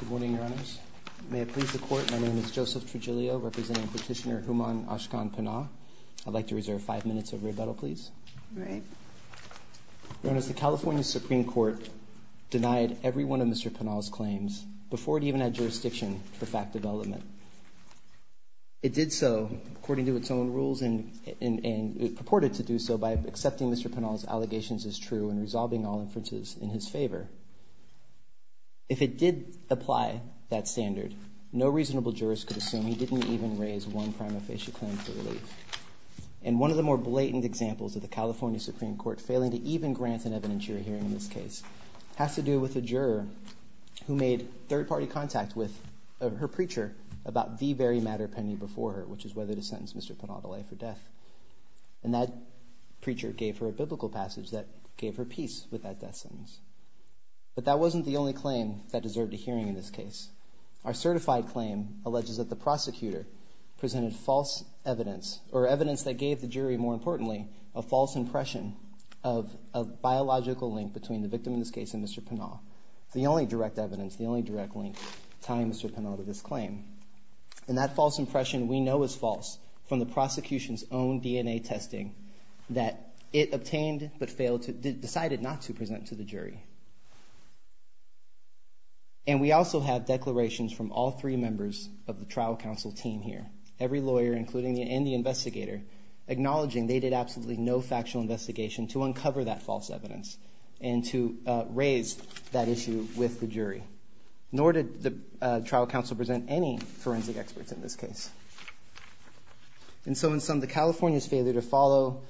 Good morning, Your Honors. May it please the Court, my name is Joseph Tregilio, representing Petitioner Hooman Ashkan Panah. I'd like to reserve five minutes of rebuttal, please. Right. Your Honors, the California Supreme Court denied every one of Mr. Panah's claims before it even had jurisdiction for fact development. It did so according to its own rules and purported to do so by accepting Mr. Panah's allegations as true and resolving all inferences in his favor. If it did apply that standard, no reasonable jurist could assume he didn't even raise one prima facie claim for relief. And one of the more blatant examples of the California Supreme Court failing to even grant an evidentiary hearing in this case has to do with a juror who made third-party contact with her preacher about the very matter pending before her, which is whether to sentence Mr. Panah to life or death. And that preacher gave her a biblical passage that gave her peace with that death sentence. But that wasn't the only claim that deserved a hearing in this case. Our certified claim alleges that the prosecutor presented false evidence, or evidence that gave the jury, more importantly, a false impression of a biological link between the victim in this case and Mr. Panah. The only direct evidence, the only direct link tying Mr. Panah to this claim. And that false impression we know is false from the prosecution's own DNA testing that it obtained but decided not to present to the jury. And we also have declarations from all three members of the trial counsel team here, every lawyer, including the investigator, acknowledging they did absolutely no factual investigation to uncover that false evidence and to raise that issue with the jury. Nor did the trial counsel present any forensic experts in this case. And so in sum, the California's failure to follow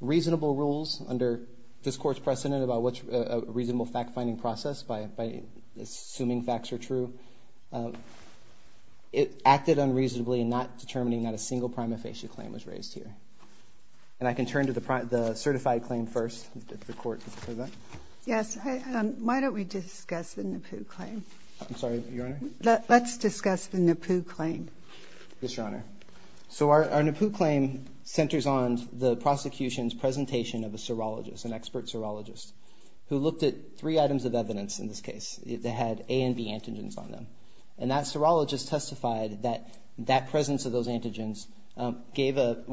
reasonable rules under this Court's precedent about what's a reasonable fact-finding process by assuming facts are true, it acted unreasonably in not determining that a single prima facie claim was raised here. And I can turn to the certified claim first, if the Court would prefer that. Yes. Why don't we discuss the NAPU claim? I'm sorry, Your Honor? Let's discuss the NAPU claim. Yes, Your Honor. So our NAPU claim centers on the prosecution's presentation of a serologist, an expert serologist, who looked at three items of evidence in this case that had A of those antigens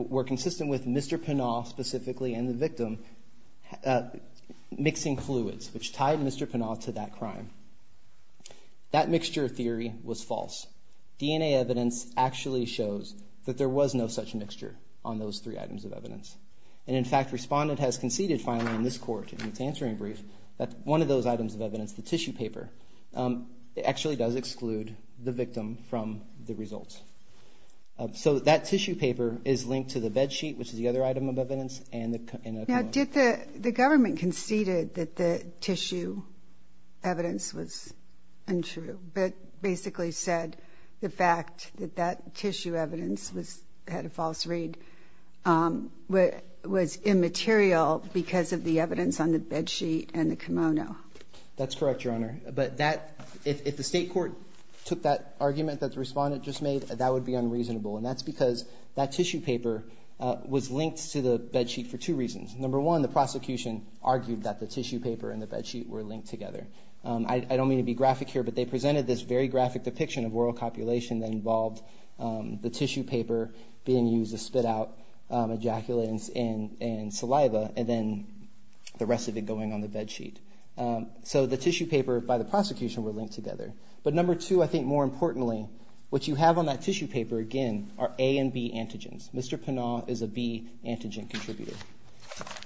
were consistent with Mr. Pinault specifically and the victim mixing fluids, which tied Mr. Pinault to that crime. That mixture theory was false. DNA evidence actually shows that there was no such mixture on those three items of evidence. And in fact, respondent has conceded finally in this Court in its answering brief that one of those items of evidence, the tissue paper, actually does exclude the victim from the results. So that tissue paper is linked to the bed sheet, which is the other item of evidence, and the kimono. Now, did the government conceded that the tissue evidence was untrue? Basically said the fact that that tissue evidence had a false read was immaterial because of the evidence on the bed sheet and the kimono. That's correct, Your Honor. But that if the state court took that argument that the respondent just made, that would be unreasonable. And that's because that tissue paper was linked to the bed sheet for two reasons. Number one, the prosecution argued that the tissue paper and the bed sheet were linked together. I don't mean to be graphic here, but they presented this very graphic depiction of oral copulation that involved the tissue paper being used to spit out ejaculants and saliva, and then the rest of it going on the bed sheet. So the tissue paper by the prosecution were linked together. But number two, I think more importantly, what you have on that tissue paper, again, are A and B antigens. Mr. Pinnall is a B antigen contributor.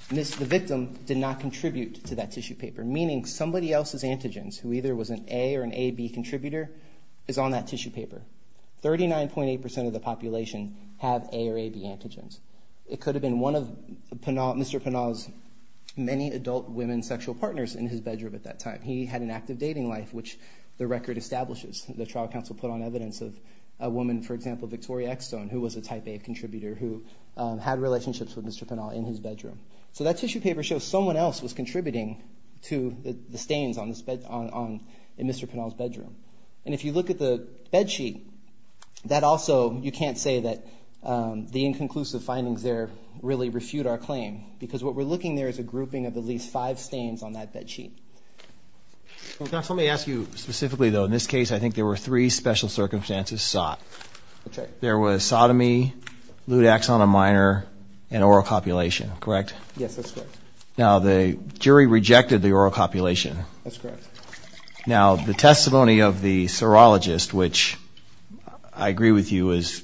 The victim did not contribute to that tissue paper, meaning somebody else's antigens, who either was an A or an AB contributor, is on that tissue paper. 39.8% of the population have A or AB antigens. It could have been one of Mr. Pinnall's many adult women sexual partners in his bedroom at that time. He had an active dating life, which the record establishes. The trial counsel put on evidence of a woman, for example, Victoria Eckstone, who was a type A contributor who had relationships with Mr. Pinnall in his bedroom. So that tissue paper shows someone else was contributing to the stains on Mr. Pinnall's bedroom. And if you look at the bed sheet, that also, you can't say that the inconclusive findings there really refute our claim, because what we're looking there is a grouping of at least five stains on that bed sheet. Well, counsel, let me ask you specifically, though. In this case, I think there were three special circumstances sought. There was sodomy, lewd axon of minor, and oral copulation, correct? Yes, that's correct. Now, the jury rejected the oral copulation. That's correct. Now, the testimony of the serologist, which I agree with you is,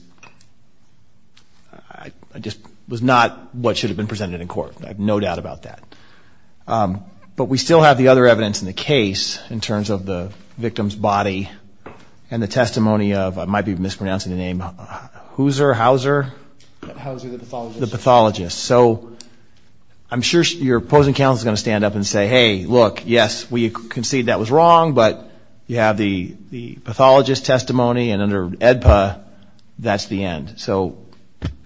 I just, was not what should have been presented in court. I have no doubt about that. But we still have the other evidence in the case, in terms of the victim's body, and the testimony of, I might be mispronouncing the name, Hooser, Hauser? Hauser, the pathologist. So I'm sure your opposing counsel is going to stand up and say, hey, look, yes, we concede that was wrong, but you have the pathologist's testimony, and under AEDPA, that's the end. So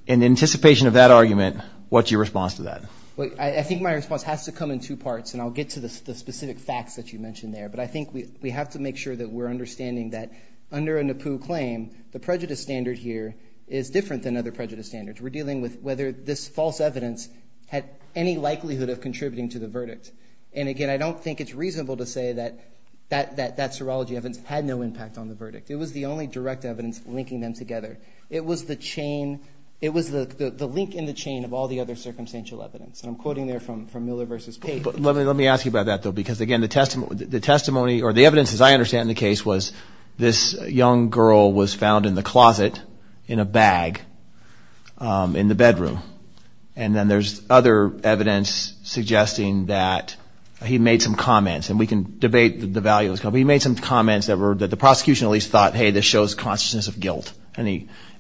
in anticipation of that argument, what's your response to that? I think my response has to come in two parts, and I'll get to the specific facts that you mentioned there. But I think we have to make sure that we're understanding that under a NAPU claim, the prejudice standard here is different than other prejudice standards. We're dealing with whether this false evidence had any likelihood of contributing to the verdict. And again, I don't think it's reasonable to say that that serology evidence had no impact on the verdict. It was the only direct evidence linking them together. It was the chain. It was the link in the chain of all the other circumstantial evidence. And I'm quoting there from Miller v. Page. But let me ask you about that, though, because, again, the testimony or the evidence, as I understand the case, was this young girl was found in the closet in a bag. In the bedroom. And then there's other evidence suggesting that he made some comments and we can debate the value of it, but he made some comments that the prosecution at least thought, hey, this shows consciousness of guilt,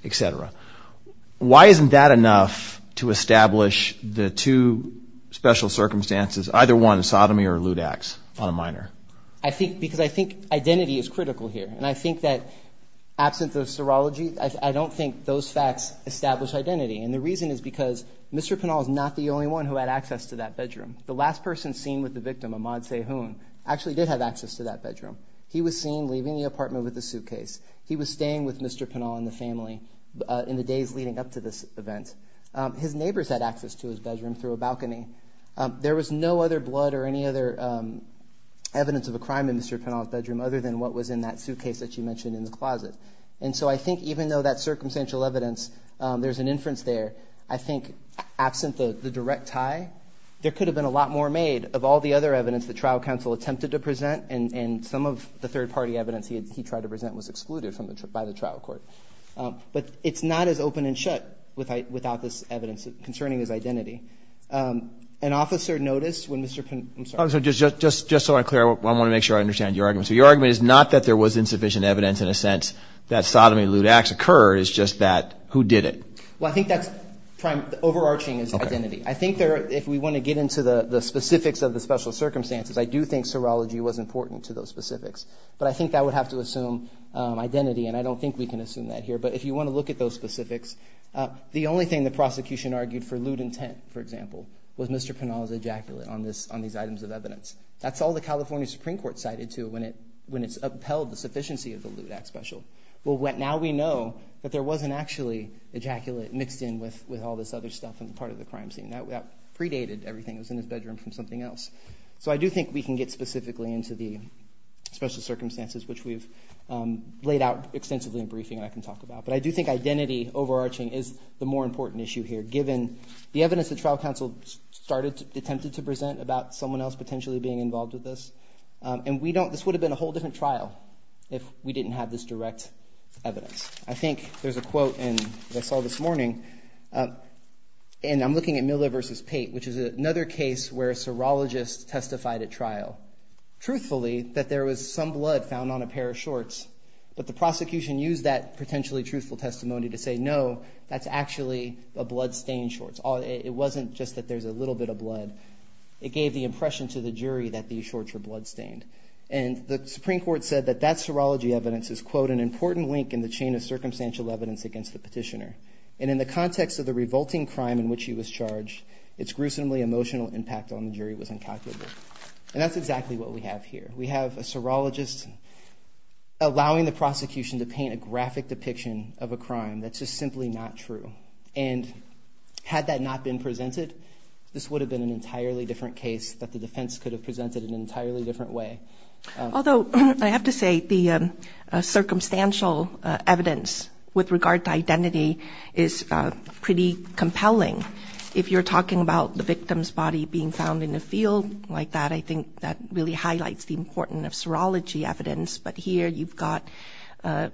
etc. Why isn't that enough to establish the two special circumstances, either one sodomy or lewd acts on a minor? I think because I think identity is critical here. And I think that absence of serology, I don't think those facts establish identity. And the reason is because Mr. Pinal is not the only one who had access to that bedroom. The last person seen with the victim, Ahmad Sehoun, actually did have access to that bedroom. He was seen leaving the apartment with a suitcase. He was staying with Mr. Pinal and the family in the days leading up to this event. His neighbors had access to his bedroom through a balcony. There was no other blood or any other evidence of a crime in Mr. Pinal's bedroom other than what was in that suitcase that you mentioned in the closet. And so I think even though that circumstantial evidence, there's an inference there, I think absent the direct tie, there could have been a lot more made of all the other evidence the trial counsel attempted to present. And some of the third party evidence he tried to present was excluded by the trial court. But it's not as open and shut without this evidence concerning his identity. An officer noticed when Mr. Pinal was in the room. Just so I'm clear, I want to make sure I understand your argument. So your argument is not that there was insufficient evidence in a sense that sodomy lewd acts occurred. It's just that who did it? Well, I think that's overarching identity. I think if we want to get into the specifics of the special circumstances, I do think serology was important to those specifics. But I think that would have to assume identity. And I don't think we can assume that here. But if you want to look at those specifics, the only thing the prosecution argued for That's all the California Supreme Court cited to when it when it's upheld the sufficiency of the lewd act special. Well, now we know that there wasn't actually ejaculate mixed in with with all this other stuff and part of the crime scene that predated everything was in his bedroom from something else. So I do think we can get specifically into the special circumstances, which we've laid out extensively in briefing that I can talk about. But I do think identity overarching is the more important issue here, given the someone else potentially being involved with this. And we don't this would have been a whole different trial if we didn't have this direct evidence. I think there's a quote and I saw this morning and I'm looking at Miller versus Pate, which is another case where a serologist testified at trial truthfully that there was some blood found on a pair of shorts. But the prosecution used that potentially truthful testimony to say, no, that's actually a bloodstained shorts. It wasn't just that there's a little bit of blood. It gave the impression to the jury that these shorts are bloodstained. And the Supreme Court said that that serology evidence is, quote, an important link in the chain of circumstantial evidence against the petitioner. And in the context of the revolting crime in which he was charged, its gruesomely emotional impact on the jury was incalculable. And that's exactly what we have here. We have a serologist allowing the prosecution to paint a graphic depiction of a crime that's just simply not true. And had that not been presented, this would have been an entirely different case that the defense could have presented in an entirely different way. Although I have to say the circumstantial evidence with regard to identity is pretty compelling. If you're talking about the victim's body being found in a field like that, I think that really highlights the importance of serology evidence. But here you've got the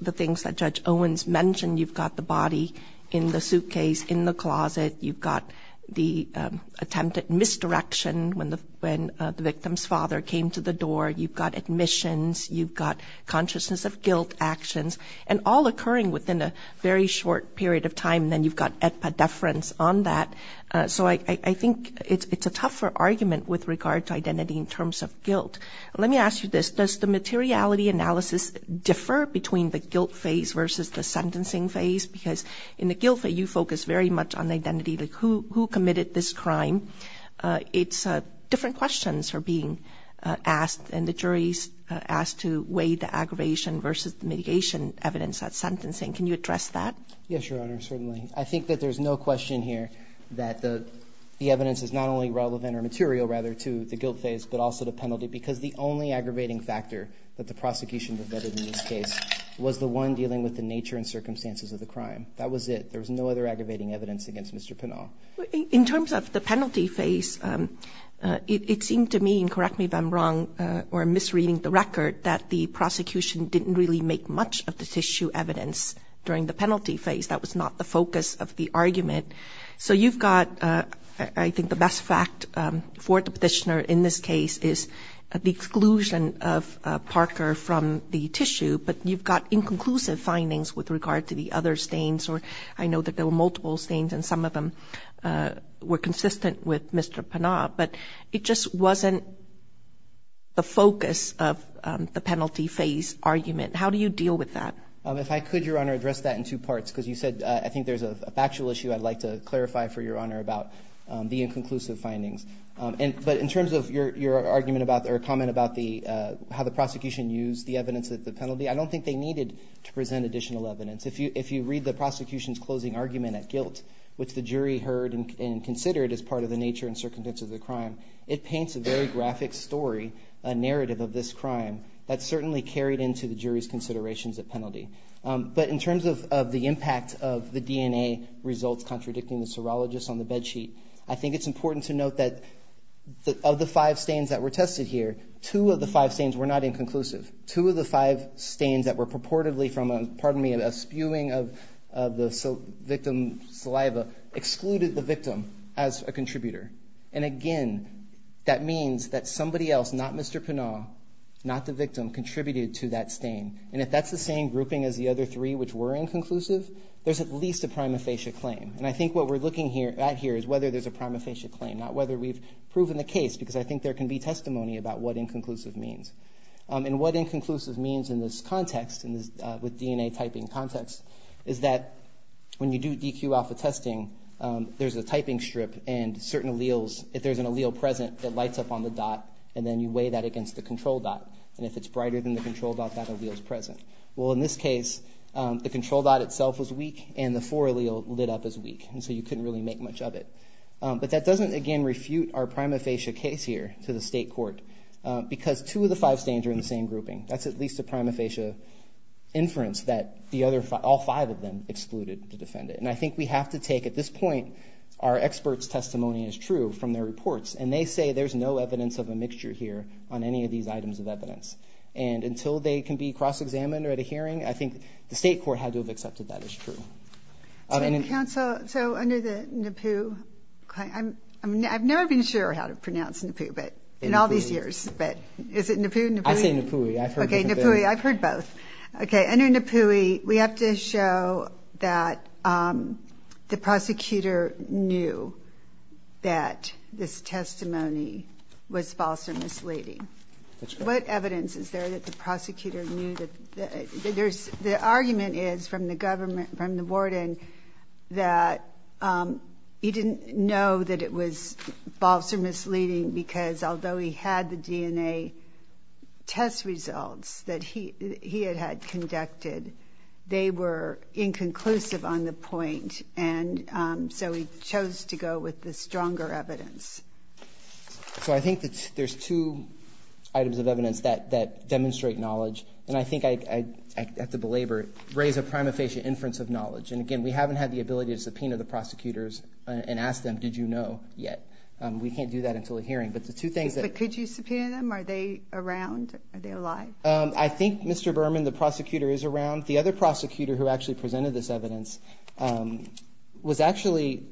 things that Judge Owens mentioned. You've got the body in the suitcase, in the closet. You've got the attempted misdirection when the victim's father came to the door. You've got admissions. You've got consciousness of guilt actions and all occurring within a very short period of time. Then you've got epidefference on that. So I think it's a tougher argument with regard to identity in terms of guilt. Let me ask you this. Does the materiality analysis differ between the guilt phase versus the sentencing phase? Because in the guilt phase, you focus very much on identity, like who committed this crime. It's different questions are being asked and the jury's asked to weigh the aggravation versus mitigation evidence at sentencing. Can you address that? Yes, Your Honor, certainly. I think that there's no question here that the evidence is not only relevant or material rather to the guilt phase, but also the penalty, because the only aggravating factor that the prosecution was better in this case was the one dealing with the nature and circumstances of the crime. That was it. There was no other aggravating evidence against Mr. Pinal. In terms of the penalty phase, it seemed to me, and correct me if I'm wrong or misreading the record, that the prosecution didn't really make much of the tissue evidence during the penalty phase. That was not the focus of the argument. So you've got, I think the best fact for the petitioner in this case is the exclusion of Parker from the tissue. But you've got inconclusive findings with regard to the other stains, or I know that there were multiple stains and some of them were consistent with Mr. Pinal, but it just wasn't the focus of the penalty phase argument. How do you deal with that? If I could, Your Honor, address that in two parts, because you said I think there's a lot to clarify for Your Honor about the inconclusive findings. But in terms of your argument about or comment about how the prosecution used the evidence at the penalty, I don't think they needed to present additional evidence. If you read the prosecution's closing argument at guilt, which the jury heard and considered as part of the nature and circumstances of the crime, it paints a very graphic story, a narrative of this crime that's certainly carried into the jury's considerations at penalty. But in terms of the impact of the DNA results contradicting the serologists on the bed sheet, I think it's important to note that of the five stains that were tested here, two of the five stains were not inconclusive. Two of the five stains that were purportedly from a spewing of the victim's saliva excluded the victim as a contributor. And again, that means that somebody else, not Mr. Pinal, not the victim, contributed to that stain. And if that's the same grouping as the other three which were inconclusive, there's at least a prima facie claim. And I think what we're looking at here is whether there's a prima facie claim, not whether we've proven the case, because I think there can be testimony about what inconclusive means. And what inconclusive means in this context, with DNA typing context, is that when you do DQ alpha testing, there's a typing strip and certain alleles, if there's an allele present, it lights up on the dot and then you weigh that against the control dot. And if it's brighter than the control dot, that allele is present. Well, in this case, the control dot itself was weak and the four allele lit up as weak. And so you couldn't really make much of it. But that doesn't, again, refute our prima facie case here to the state court, because two of the five stains are in the same grouping. That's at least a prima facie inference that all five of them excluded to defend it. And I think we have to take at this point, our experts' testimony is true from their evidence. And until they can be cross-examined or at a hearing, I think the state court had to have accepted that as true. So under the NAPU, I've never been sure how to pronounce NAPU, but in all these years, but is it NAPU, NAPUI? I say NAPUI, I've heard both. OK, under NAPUI, we have to show that the prosecutor knew that this testimony was false or misleading. What evidence is there that the prosecutor knew that there's the argument is from the government, from the warden, that he didn't know that it was false or misleading because although he had the DNA test results that he had had conducted, they were inconclusive on the point. And so he chose to go with the stronger evidence. So I think that there's two items of evidence that demonstrate knowledge, and I think I have to belabor it, raise a prima facie inference of knowledge. And again, we haven't had the ability to subpoena the prosecutors and ask them, did you know yet? We can't do that until a hearing. But the two things that... But could you subpoena them? Are they around? Are they alive? I think, Mr. Berman, the prosecutor is around. The other prosecutor who actually presented this evidence was actually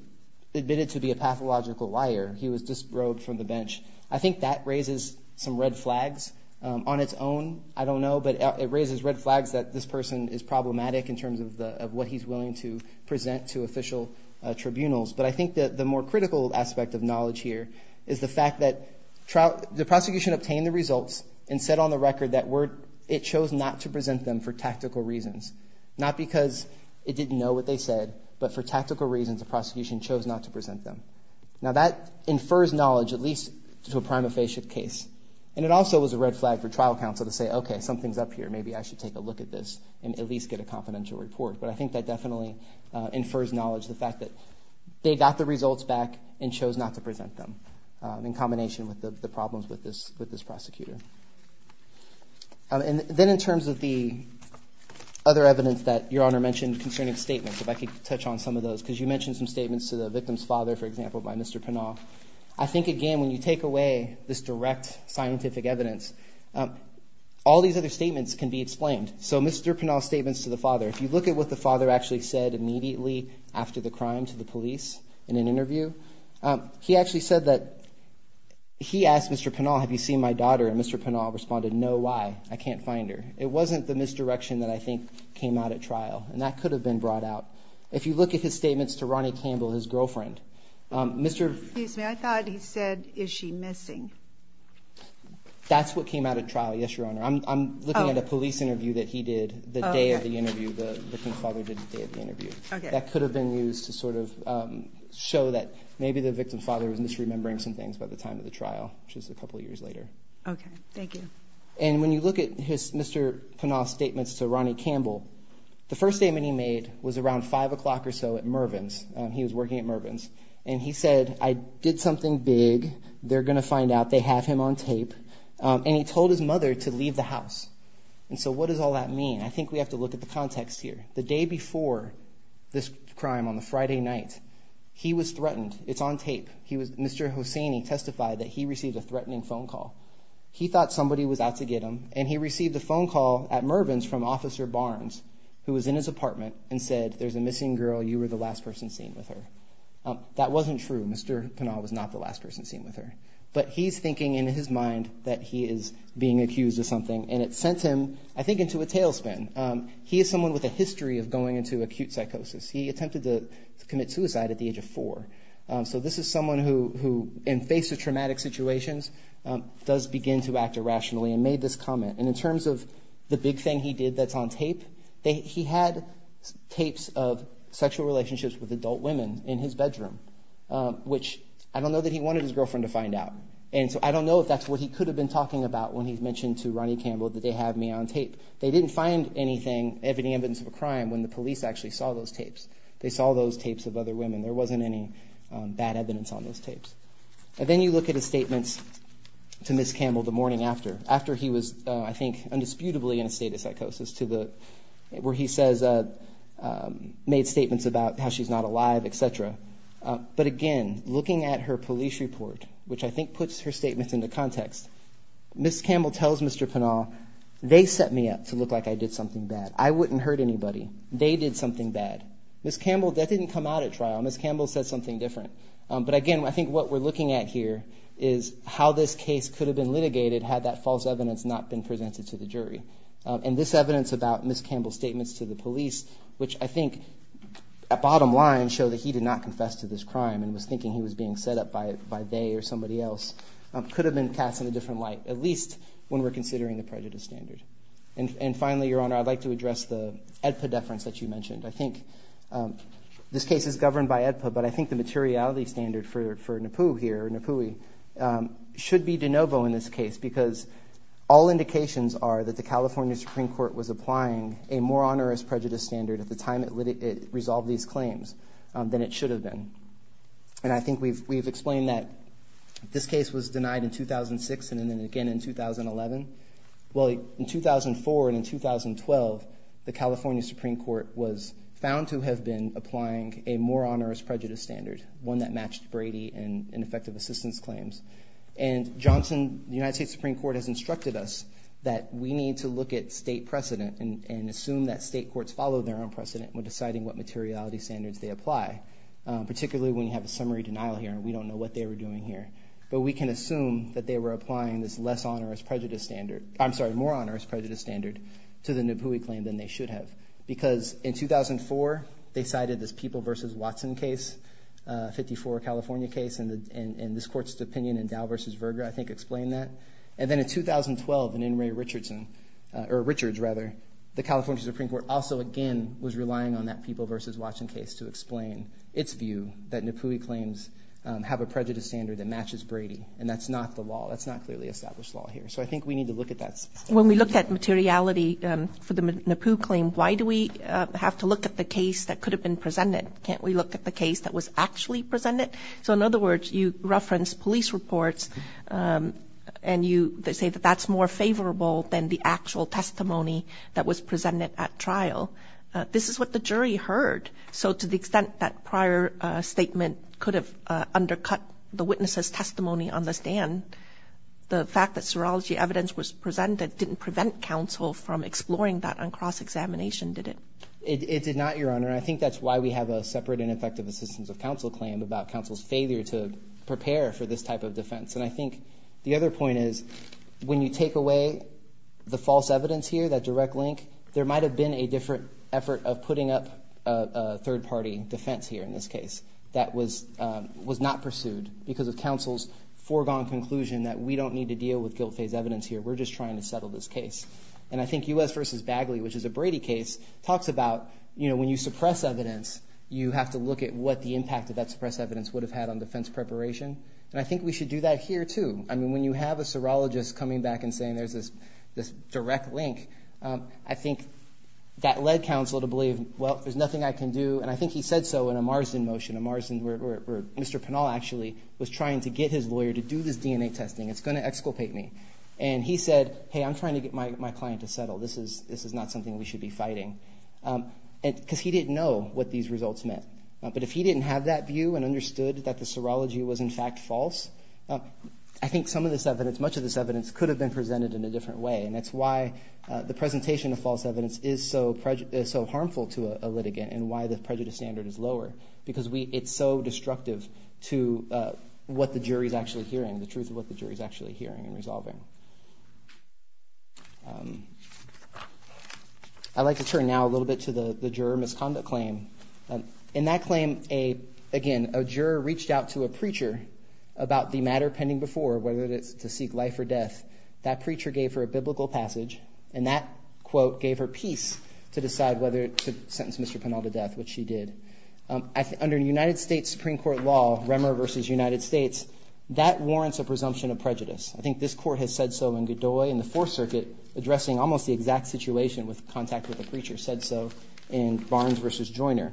admitted to be a pathological liar. He was disrobed from the bench. I think that raises some red flags on its own. I don't know, but it raises red flags that this person is problematic in terms of what he's willing to present to official tribunals. But I think that the more critical aspect of knowledge here is the fact that the prosecution obtained the results and said on the record that it chose not to present them for tactical reasons, not because it didn't know what they said, but for tactical reasons, the prosecution chose not to present them. Now, that infers knowledge, at least to a prima facie case, and it also was a red flag for trial counsel to say, OK, something's up here. Maybe I should take a look at this and at least get a confidential report. But I think that definitely infers knowledge, the fact that they got the results back and chose not to present them in combination with the problems with this prosecutor. And then in terms of the other evidence that Your Honor mentioned concerning statements, if I could touch on some of those, because you mentioned some statements to the victim's father, for example, by Mr. Pinal. I think, again, when you take away this direct scientific evidence, all these other statements can be explained. So Mr. Pinal's statements to the father, if you look at what the father actually said immediately after the crime to the police in an interview, he actually said that he asked Mr. Pinal, have you seen my daughter? And Mr. Pinal responded, no, why? I can't find her. It wasn't the misdirection that I think came out at trial and that could have been brought out. If you look at his statements to Ronnie Campbell, his girlfriend, Mr. Excuse me. I thought he said, is she missing? That's what came out of trial. Yes, Your Honor. I'm looking at a police interview that he did the day of the interview. The victim's father did the day of the interview. That could have been used to sort of show that maybe the victim's father was misremembering some things by the time of the trial, which is a couple of years later. OK, thank you. And when you look at Mr. Pinal's statements to Ronnie Campbell, the first statement he made was around five o'clock or so at Mervin's. He was working at Mervin's and he said, I did something big. They're going to find out. They have him on tape. And he told his mother to leave the house. And so what does all that mean? I think we have to look at the context here. The day before this crime on the Friday night, he was threatened. It's on tape. He was Mr. Hosseini testified that he received a threatening phone call. He thought somebody was out to get him. And he received a phone call at Mervin's from Officer Barnes, who was in his scene with her. That wasn't true. Mr. Pinal was not the last person seen with her. But he's thinking in his mind that he is being accused of something. And it sent him, I think, into a tailspin. He is someone with a history of going into acute psychosis. He attempted to commit suicide at the age of four. So this is someone who, in face of traumatic situations, does begin to act irrationally and made this comment. And in terms of the big thing he did that's on tape, he had tapes of sexual relationships with adult women in his bedroom, which I don't know that he wanted his girlfriend to find out. And so I don't know if that's what he could have been talking about when he mentioned to Ronnie Campbell that they have me on tape. They didn't find anything, evidence of a crime, when the police actually saw those tapes. They saw those tapes of other women. There wasn't any bad evidence on those tapes. And then you look at his statements to Ms. Campbell the morning after, after he was, I think, undisputably in a state of how she's not alive, et cetera. But again, looking at her police report, which I think puts her statements into context, Ms. Campbell tells Mr. Pinnall, they set me up to look like I did something bad. I wouldn't hurt anybody. They did something bad. Ms. Campbell, that didn't come out at trial. Ms. Campbell said something different. But again, I think what we're looking at here is how this case could have been litigated had that false evidence not been presented to the jury. And this evidence about Ms. Pinnall's bottom line show that he did not confess to this crime and was thinking he was being set up by they or somebody else, could have been cast in a different light, at least when we're considering the prejudice standard. And finally, Your Honor, I'd like to address the AEDPA deference that you mentioned. I think this case is governed by AEDPA, but I think the materiality standard for Napu here, Napui, should be de novo in this case because all indications are that the California Supreme Court was applying a more onerous prejudice standard at the time it resolved these claims than it should have been. And I think we've explained that this case was denied in 2006 and then again in 2011. Well, in 2004 and in 2012, the California Supreme Court was found to have been applying a more onerous prejudice standard, one that matched Brady and ineffective assistance claims. And Johnson, the United States Supreme Court, has instructed us that we need to look at state precedent and assume that state courts follow their own precedent when deciding what materiality standards they apply, particularly when you have a summary denial here and we don't know what they were doing here. But we can assume that they were applying this less onerous prejudice standard. I'm sorry, more onerous prejudice standard to the Napui claim than they should have, because in 2004, they cited this People v. Watson case, a 54 California case, and this court's opinion in Dow v. Verga, I think, explained that. And then in 2012, in In re. Richardson, or Richards rather, the California Supreme Court also, again, was relying on that People v. Watson case to explain its view that Napui claims have a prejudice standard that matches Brady. And that's not the law. That's not clearly established law here. So I think we need to look at that. When we look at materiality for the Napui claim, why do we have to look at the case that could have been presented? Can't we look at the case that was actually presented? So in other words, you reference police reports, and you say that that's more favorable than the actual testimony that was presented at trial. This is what the jury heard. So to the extent that prior statement could have undercut the witness's testimony on the stand, the fact that serology evidence was presented didn't prevent counsel from exploring that on cross-examination, did it? It did not, Your Honor. And I think the other point is, when you take away the false evidence here, that direct link, there might have been a different effort of putting up a third-party defense here in this case that was not pursued because of counsel's foregone conclusion that we don't need to deal with guilt phase evidence here. We're just trying to settle this case. And I think U.S. v. Bagley, which is a Brady case, talks about when you suppress evidence, you have to look at what the impact of that suppressed evidence would have had on defense preparation. And I think we should do that here, too. I mean, when you have a serologist coming back and saying there's this direct link, I think that led counsel to believe, well, there's nothing I can do. And I think he said so in a Marsden motion, a Marsden where Mr. Pinal actually was trying to get his lawyer to do this DNA testing. It's going to exculpate me. And he said, hey, I'm trying to get my client to settle. This is not something we should be fighting. Because he didn't know what these results meant. But if he didn't have that view and understood that the serology was, in fact, false, I think some of this evidence, much of this evidence could have been presented in a different way. And that's why the presentation of false evidence is so harmful to a litigant and why the prejudice standard is lower, because it's so destructive to what the jury is actually hearing, the truth of what the jury is actually hearing and resolving. I'd like to turn now a little bit to the juror misconduct claim. In that claim, again, a juror reached out to a preacher about the matter pending before, whether it's to seek life or death. That preacher gave her a biblical passage. And that quote gave her peace to decide whether to sentence Mr. Pinal to death, which she did. Under United States Supreme Court law, Remmer versus United States, that warrants a presumption of prejudice. I think this court has said so in Godoy and the Fourth Circuit, addressing almost the exact situation with contact with the preacher, said so in Barnes versus Joiner.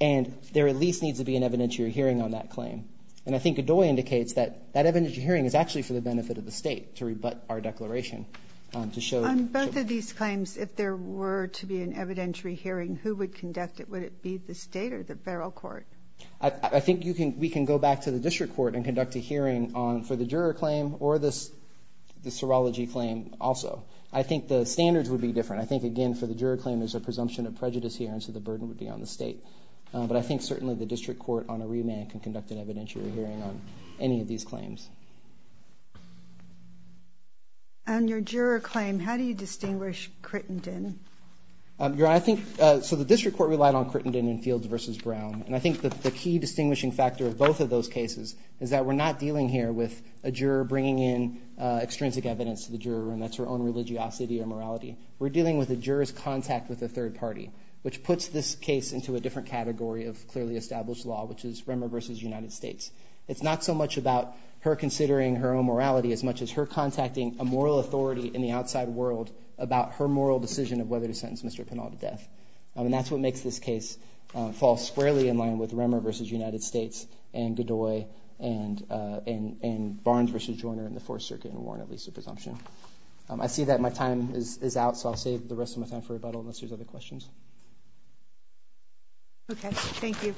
And there at least needs to be an evidentiary hearing on that claim. And I think Godoy indicates that that evidentiary hearing is actually for the benefit of the state to rebut our declaration. On both of these claims, if there were to be an evidentiary hearing, who would conduct it? Would it be the state or the federal court? I think we can go back to the district court and conduct a hearing for the juror claim or the serology claim also. I think the standards would be different. I think, again, for the juror claim, there's a presumption of prejudice here. And so the burden would be on the state. But I think certainly the district court on a remand can conduct an evidentiary hearing on any of these claims. On your juror claim, how do you distinguish Crittenden? Your Honor, I think, so the district court relied on Crittenden and Fields versus Brown. And I think that the key distinguishing factor of both of those cases is that we're not dealing here with a juror bringing in extrinsic evidence to the juror and that's her own religiosity or morality. We're dealing with a juror's contact with a third party, which puts this case into a different category of clearly established law, which is Remmer versus United States. It's not so much about her considering her own morality as much as her contacting a moral authority in the outside world about her moral decision of whether to sentence Mr. Pinal to death. I mean, that's what makes this case fall squarely in line with Remmer versus United States and Godoy and Barnes versus Joyner in the Fourth Circuit and Warren at least a presumption. I see that my time is out, so I'll save the rest of my time for rebuttal unless there's other questions. OK, thank you.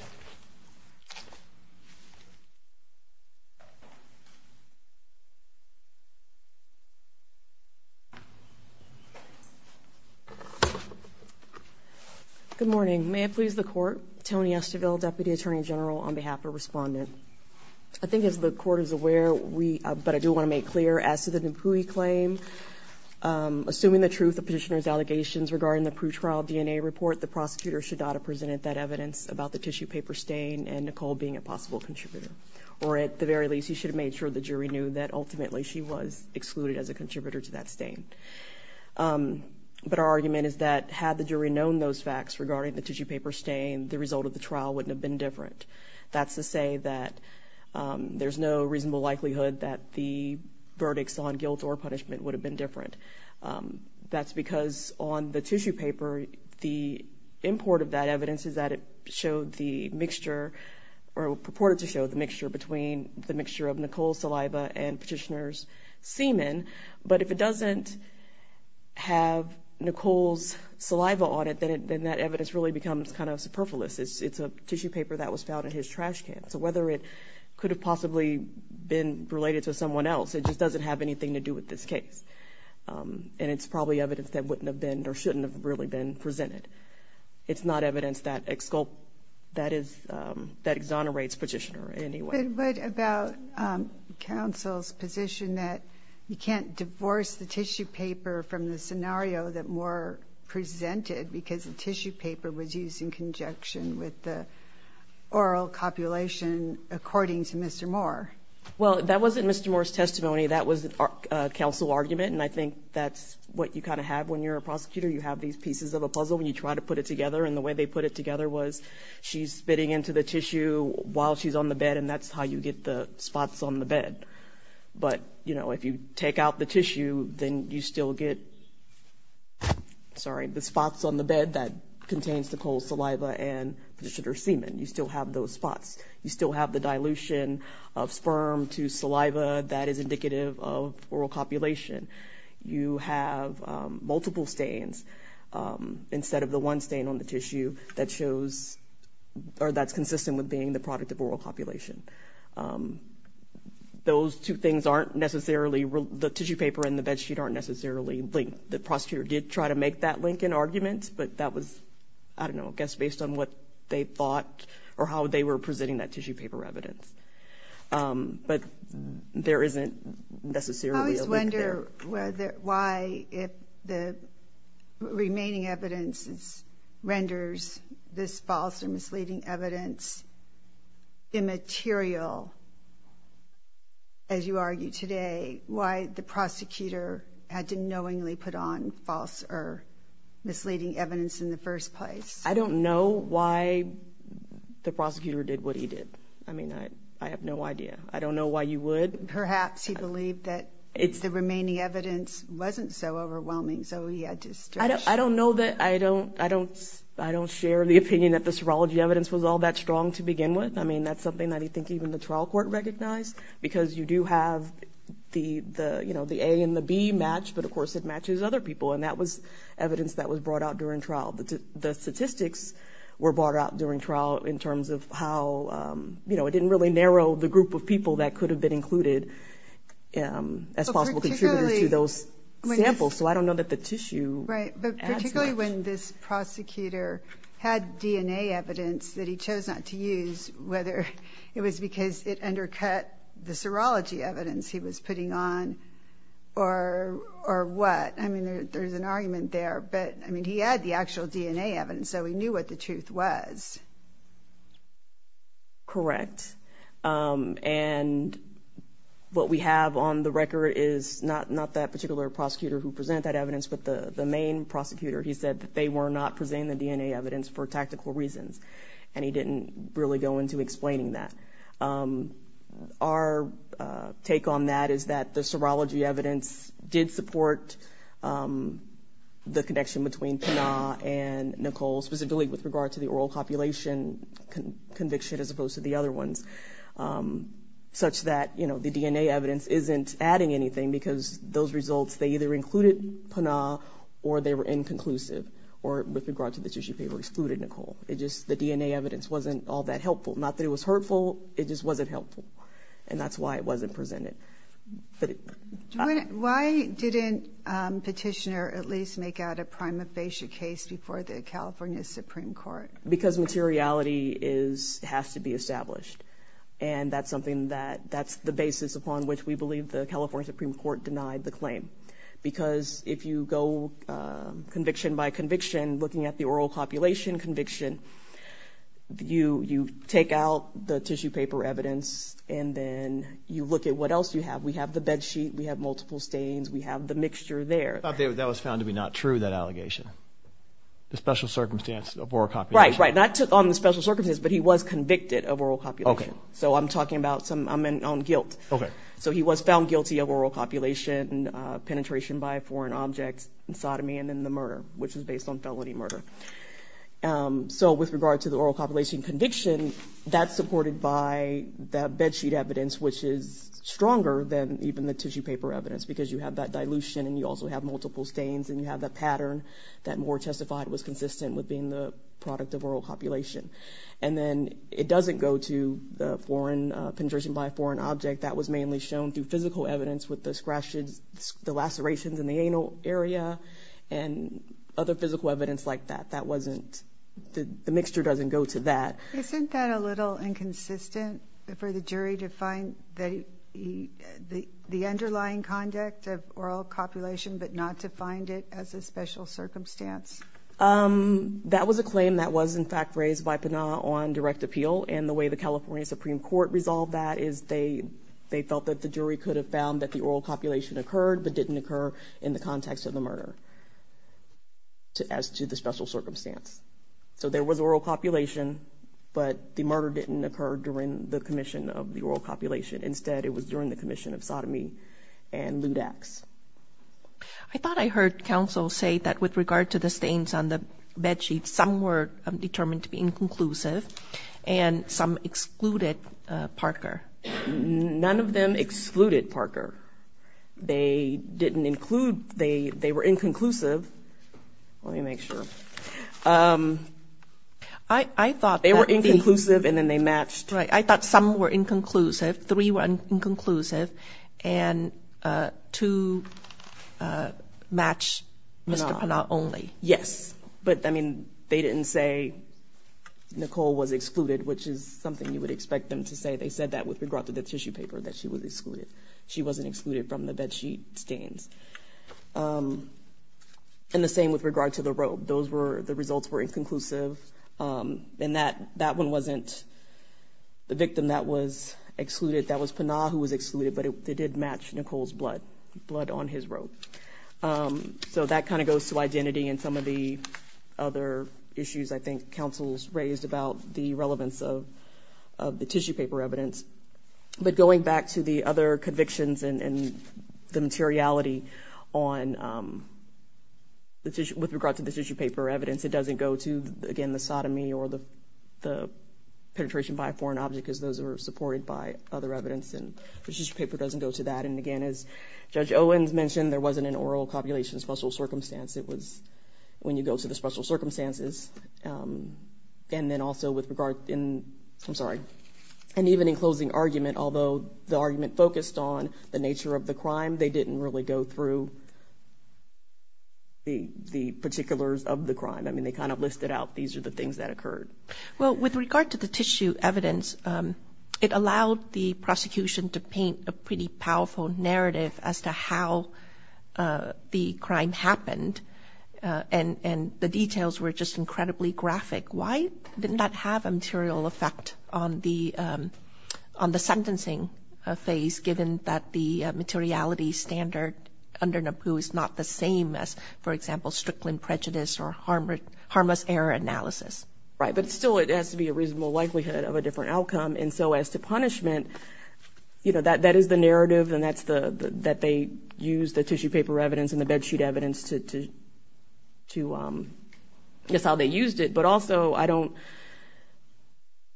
Good morning, may it please the court. Tony Estiville, Deputy Attorney General, on behalf of Respondent. I think as the court is aware, we but I do want to make clear as to the Pui claim. Assuming the truth of petitioner's allegations regarding the pre-trial DNA report, the prosecutor should not have presented that evidence about the tissue paper stain and Nicole being a possible contributor or at the very least, he should have made sure the jury knew that ultimately she was excluded as a contributor to that stain. But our argument is that had the jury known those facts regarding the tissue paper stain, the result of the trial wouldn't have been different. That's to say that there's no reasonable likelihood that the verdicts on guilt or conviction would have been different. That's because on the tissue paper, the import of that evidence is that it showed the mixture or purported to show the mixture between the mixture of Nicole's saliva and petitioner's semen. But if it doesn't have Nicole's saliva on it, then that evidence really becomes kind of superfluous. It's a tissue paper that was found in his trash can. So whether it could have possibly been related to someone else, it just doesn't have anything to do with this case. And it's probably evidence that wouldn't have been or shouldn't have really been presented. It's not evidence that exonerates petitioner anyway. But about counsel's position that you can't divorce the tissue paper from the scenario that Moore presented because the tissue paper was used in conjunction with the oral copulation according to Mr. Moore. Well, that wasn't Mr. Moore's testimony. That was a counsel argument. And I think that's what you kind of have when you're a prosecutor. You have these pieces of a puzzle when you try to put it together. And the way they put it together was she's spitting into the tissue while she's on the bed. And that's how you get the spots on the bed. But, you know, if you take out the tissue, then you still get. Sorry, the spots on the bed that contains Nicole's saliva and petitioner's semen, you still have those spots, you still have the dilution of sperm to saliva that is indicative of oral copulation. You have multiple stains instead of the one stain on the tissue that shows or that's consistent with being the product of oral copulation. Those two things aren't necessarily the tissue paper and the bedsheet aren't necessarily linked. The prosecutor did try to make that Lincoln argument, but that was, I don't know, I guess based on what they thought or how they were presenting that tissue paper evidence. But there isn't necessarily a link there. I always wonder why if the remaining evidence renders this false or misleading evidence immaterial, as you argue today, why the prosecutor had to knowingly put on false or misleading evidence in the first place? I don't know why the prosecutor did what he did. I mean, I have no idea. I don't know why you would. Perhaps he believed that the remaining evidence wasn't so overwhelming. So he had to stretch. I don't know that I don't I don't I don't share the opinion that the serology evidence was all that strong to begin with. I mean, that's something that I think even the trial court recognized because you do have the, you know, the A and the B match. But of course, it matches other people. And that was evidence that was brought out during trial. The statistics were brought out during trial in terms of how, you know, it didn't really narrow the group of people that could have been included as possible contributors to those samples. So I don't know that the tissue. Right. But particularly when this prosecutor had DNA evidence that he chose not to use, whether it was because it undercut the serology evidence he was putting on or or what. I mean, there's an argument there. But I mean, he had the actual DNA evidence, so he knew what the truth was. Correct, and what we have on the record is not not that particular prosecutor who present that evidence, but the main prosecutor, he said that they were not presenting the DNA evidence for tactical reasons and he didn't really go into explaining that. Our take on that is that the serology evidence did support the connection between Pana and Nicole, specifically with regard to the oral population conviction as opposed to the other ones, such that, you know, the DNA evidence isn't adding anything because those results, they either included Pana or they were inconclusive or with regard to the tissue paper excluded Nicole. It just the DNA evidence wasn't all that helpful. Not that it was hurtful. It just wasn't helpful. And that's why it wasn't presented. But why didn't petitioner at least make out a prima facie case before the California Supreme Court? Because materiality is has to be established. And that's something that that's the basis upon which we believe the California Supreme Court denied the claim. Because if you go conviction by conviction, looking at the oral population conviction, you you take out the tissue paper evidence and then you look at what else you have. We have the bed sheet. We have multiple stains. We have the mixture there. That was found to be not true, that allegation. The special circumstance of oral copulation. Right, right. Not on the special circumstances, but he was convicted of oral copulation. So I'm talking about some I'm in on guilt. So he was found guilty of oral copulation and penetration by a foreign object and sodomy and then the murder, which is based on felony murder. So with regard to the oral population conviction that's supported by the bedsheet evidence, which is stronger than even the tissue paper evidence, because you have that dilution and you also have multiple stains and you have that pattern that Moore testified was consistent with being the product of oral copulation. And then it doesn't go to the foreign penetration by a foreign object that was mainly shown through physical evidence with the scratches, the lacerations in the anal area and other physical evidence like that. That wasn't the mixture doesn't go to that. Isn't that a little inconsistent for the jury to find that the underlying conduct of oral copulation, but not to find it as a special circumstance? That was a claim that was, in fact, raised by Pana on direct appeal. And the way the California Supreme Court resolved that is they they felt that the jury could have found that the oral copulation occurred, but didn't occur in the context of the murder. As to the special circumstance, so there was oral copulation. But the murder didn't occur during the commission of the oral copulation. Instead, it was during the commission of sodomy and lewd acts. I thought I heard counsel say that with regard to the stains on the bedsheets, some were determined to be inconclusive and some excluded Parker. None of them excluded Parker. They didn't include they they were inconclusive. Let me make sure. I thought they were inconclusive and then they matched. Right. I thought some were inconclusive. Three were inconclusive and to match Mr. Pana only. Yes. But I mean, they didn't say Nicole was excluded, which is something you would expect them to say. They said that with regard to the tissue paper that she was excluded. She wasn't excluded from the bedsheet stains. And the same with regard to the robe. Those were the results were inconclusive and that that one wasn't the victim. That was excluded. That was Pana who was excluded, but it did match Nicole's blood blood on his robe. So that kind of goes to identity and some of the other issues I think counsels raised about the relevance of of the tissue paper evidence. But going back to the other convictions and the materiality on. The tissue with regard to the tissue paper evidence, it doesn't go to, again, the sodomy or the the penetration by a foreign object, as those are supported by other evidence and the tissue paper doesn't go to that. And again, as Judge Owens mentioned, there wasn't an oral copulation special circumstance. It was when you go to the special circumstances and then also with regard in I'm sorry. And even in closing argument, although the argument focused on the nature of the the the particulars of the crime, I mean, they kind of listed out these are the things that occurred. Well, with regard to the tissue evidence, it allowed the prosecution to paint a pretty powerful narrative as to how the crime happened. And the details were just incredibly graphic. Why didn't that have a material effect on the on the sentencing phase, given that the materiality standard under Naboo is not the same as, for example, Strickland prejudice or harmless error analysis? Right. But still, it has to be a reasonable likelihood of a different outcome. And so as to punishment, you know, that that is the narrative and that's the that they use the tissue paper evidence and the bedsheet evidence to to to guess how they used it. But also, I don't.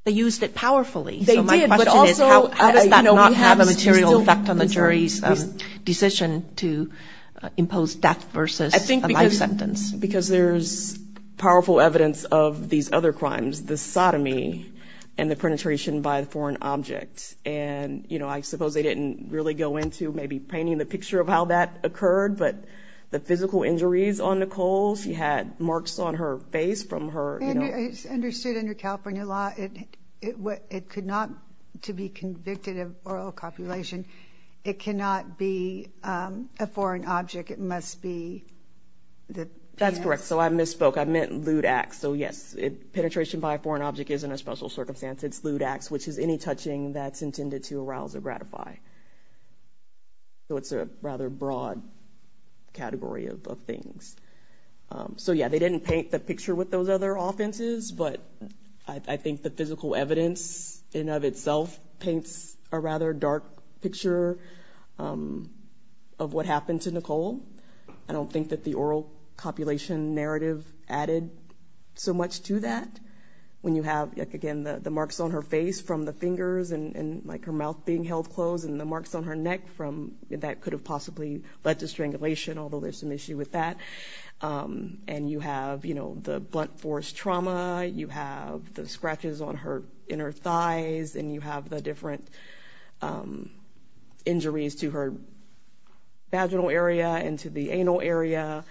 They used it powerfully. They did. But also, how does that not have a material effect on the jury's decision to impose death versus a life sentence? Because there's powerful evidence of these other crimes, the sodomy and the penetration by the foreign object. And, you know, I suppose they didn't really go into maybe painting the picture of how that occurred. But the physical injuries on Nicole, she had marks on her face from her. It's understood under California law. It what it could not to be convicted of oral copulation. It cannot be a foreign object. It must be the. That's correct. So I misspoke. I meant lewd acts. So, yes, it penetration by a foreign object is in a special circumstance. It's lewd acts, which is any touching that's intended to arouse or gratify. So it's a rather broad category of things. So, yeah, they didn't paint the picture with those other offenses, but I think the physical evidence in of itself paints a rather dark picture of what happened to Nicole. I don't think that the oral copulation narrative added so much to that when you have, again, the marks on her face from the fingers and like her mouth being held closed and the marks on her neck from that could have possibly led to and you have, you know, the blunt force trauma. You have the scratches on her inner thighs and you have the different injuries to her vaginal area and to the anal area.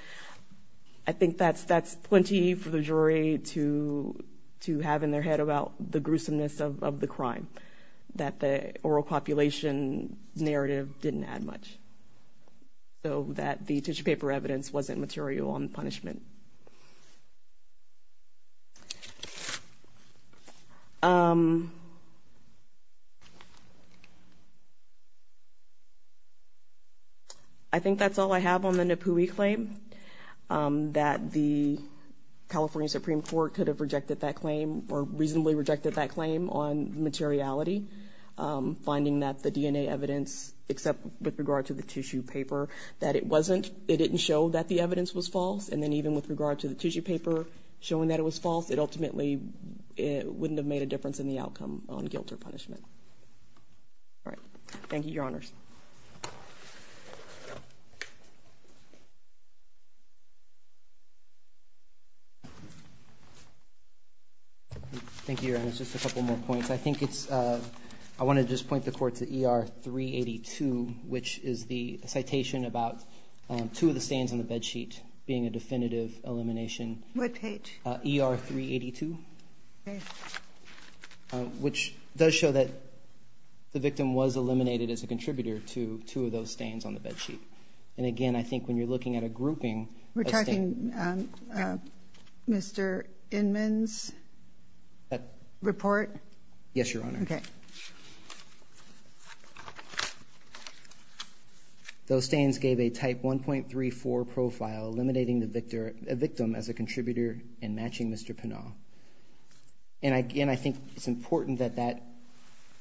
I think that's that's plenty for the jury to to have in their head about the gruesomeness of the crime that the oral copulation narrative didn't add much. So that the tissue paper evidence wasn't material on the punishment. I think that's all I have on the Nipuhi claim that the California Supreme Court could have rejected that claim or reasonably rejected that claim on the tissue paper that it wasn't, it didn't show that the evidence was false. And then even with regard to the tissue paper showing that it was false, it ultimately wouldn't have made a difference in the outcome on guilt or punishment. All right. Thank you, Your Honors. Thank you, Your Honors. Just a couple more points. I think it's I want to just point the court to ER 382, which is the citation about two of the stains on the bed sheet being a definitive elimination. What page? ER 382, which does show that the victim was eliminated as a contributor to two of those stains on the bed sheet. And again, I think when you're looking at a grouping. We're talking Mr. Inman's report. Yes, Your Honor. Those stains gave a type 1.34 profile, eliminating the victim as a contributor and matching Mr. Pinnall. And again, I think it's important that that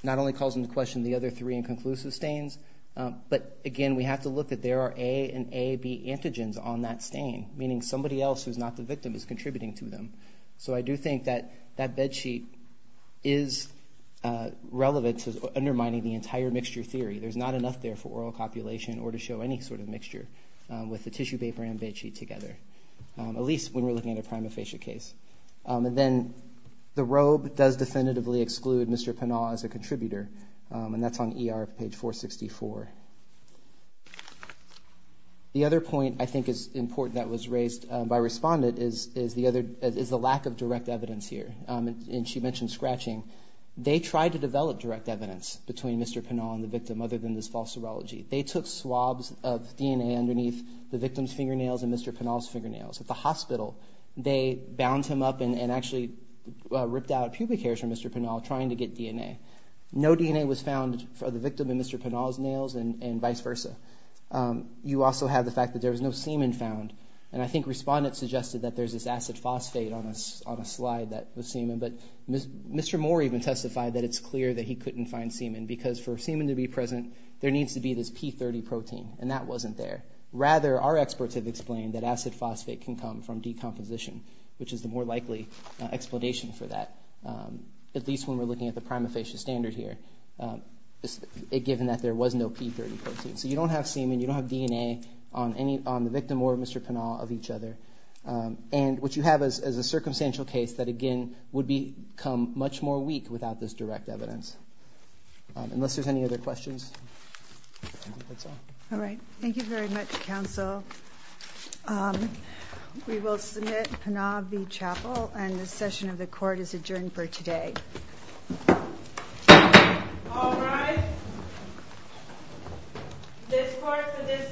not only calls into question the other three inconclusive stains, but again, we have to look at there are A and AB antigens on that stain, meaning somebody else who's not the victim is contributing to them. So I do think that that bed sheet is relevant to undermining the entire mixture theory. There's not enough there for oral copulation or to show any sort of mixture with the tissue paper and bed sheet together, at least when we're looking at a prima facie case. And then the robe does definitively exclude Mr. Pinnall as a contributor. And that's on ER page 464. The other point I think is important that was raised by respondent is the other is the lack of direct evidence here. And she mentioned scratching. They tried to develop direct evidence between Mr. Pinnall and the victim other than this false serology. They took swabs of DNA underneath the victim's fingernails and Mr. Pinnall's fingernails at the hospital. They bound him up and actually ripped out pubic hairs from Mr. Pinnall trying to get DNA. No DNA was found for the victim in Mr. Pinnall's nails and vice versa. You also have the fact that there was no semen found. And I think respondents suggested that there's this acid phosphate on a slide that was semen, but Mr. Moore even testified that it's clear that he couldn't find semen because for semen to be present, there needs to be this P30 protein and that wasn't there. Rather, our experts have explained that acid phosphate can come from decomposition, which is the more likely explanation for that. At least when we're looking at the prima facie standard here, given that there was no P30 protein. So you don't have semen, you don't have DNA on the victim or Mr. Pinnall of each other. And what you have is a circumstantial case that again would become much more weak without this direct evidence. Unless there's any other questions. All right. Thank you very much, counsel. We will submit Pinnall v. Chappell and the session of the court is adjourned for today. This court for this session stands adjourned.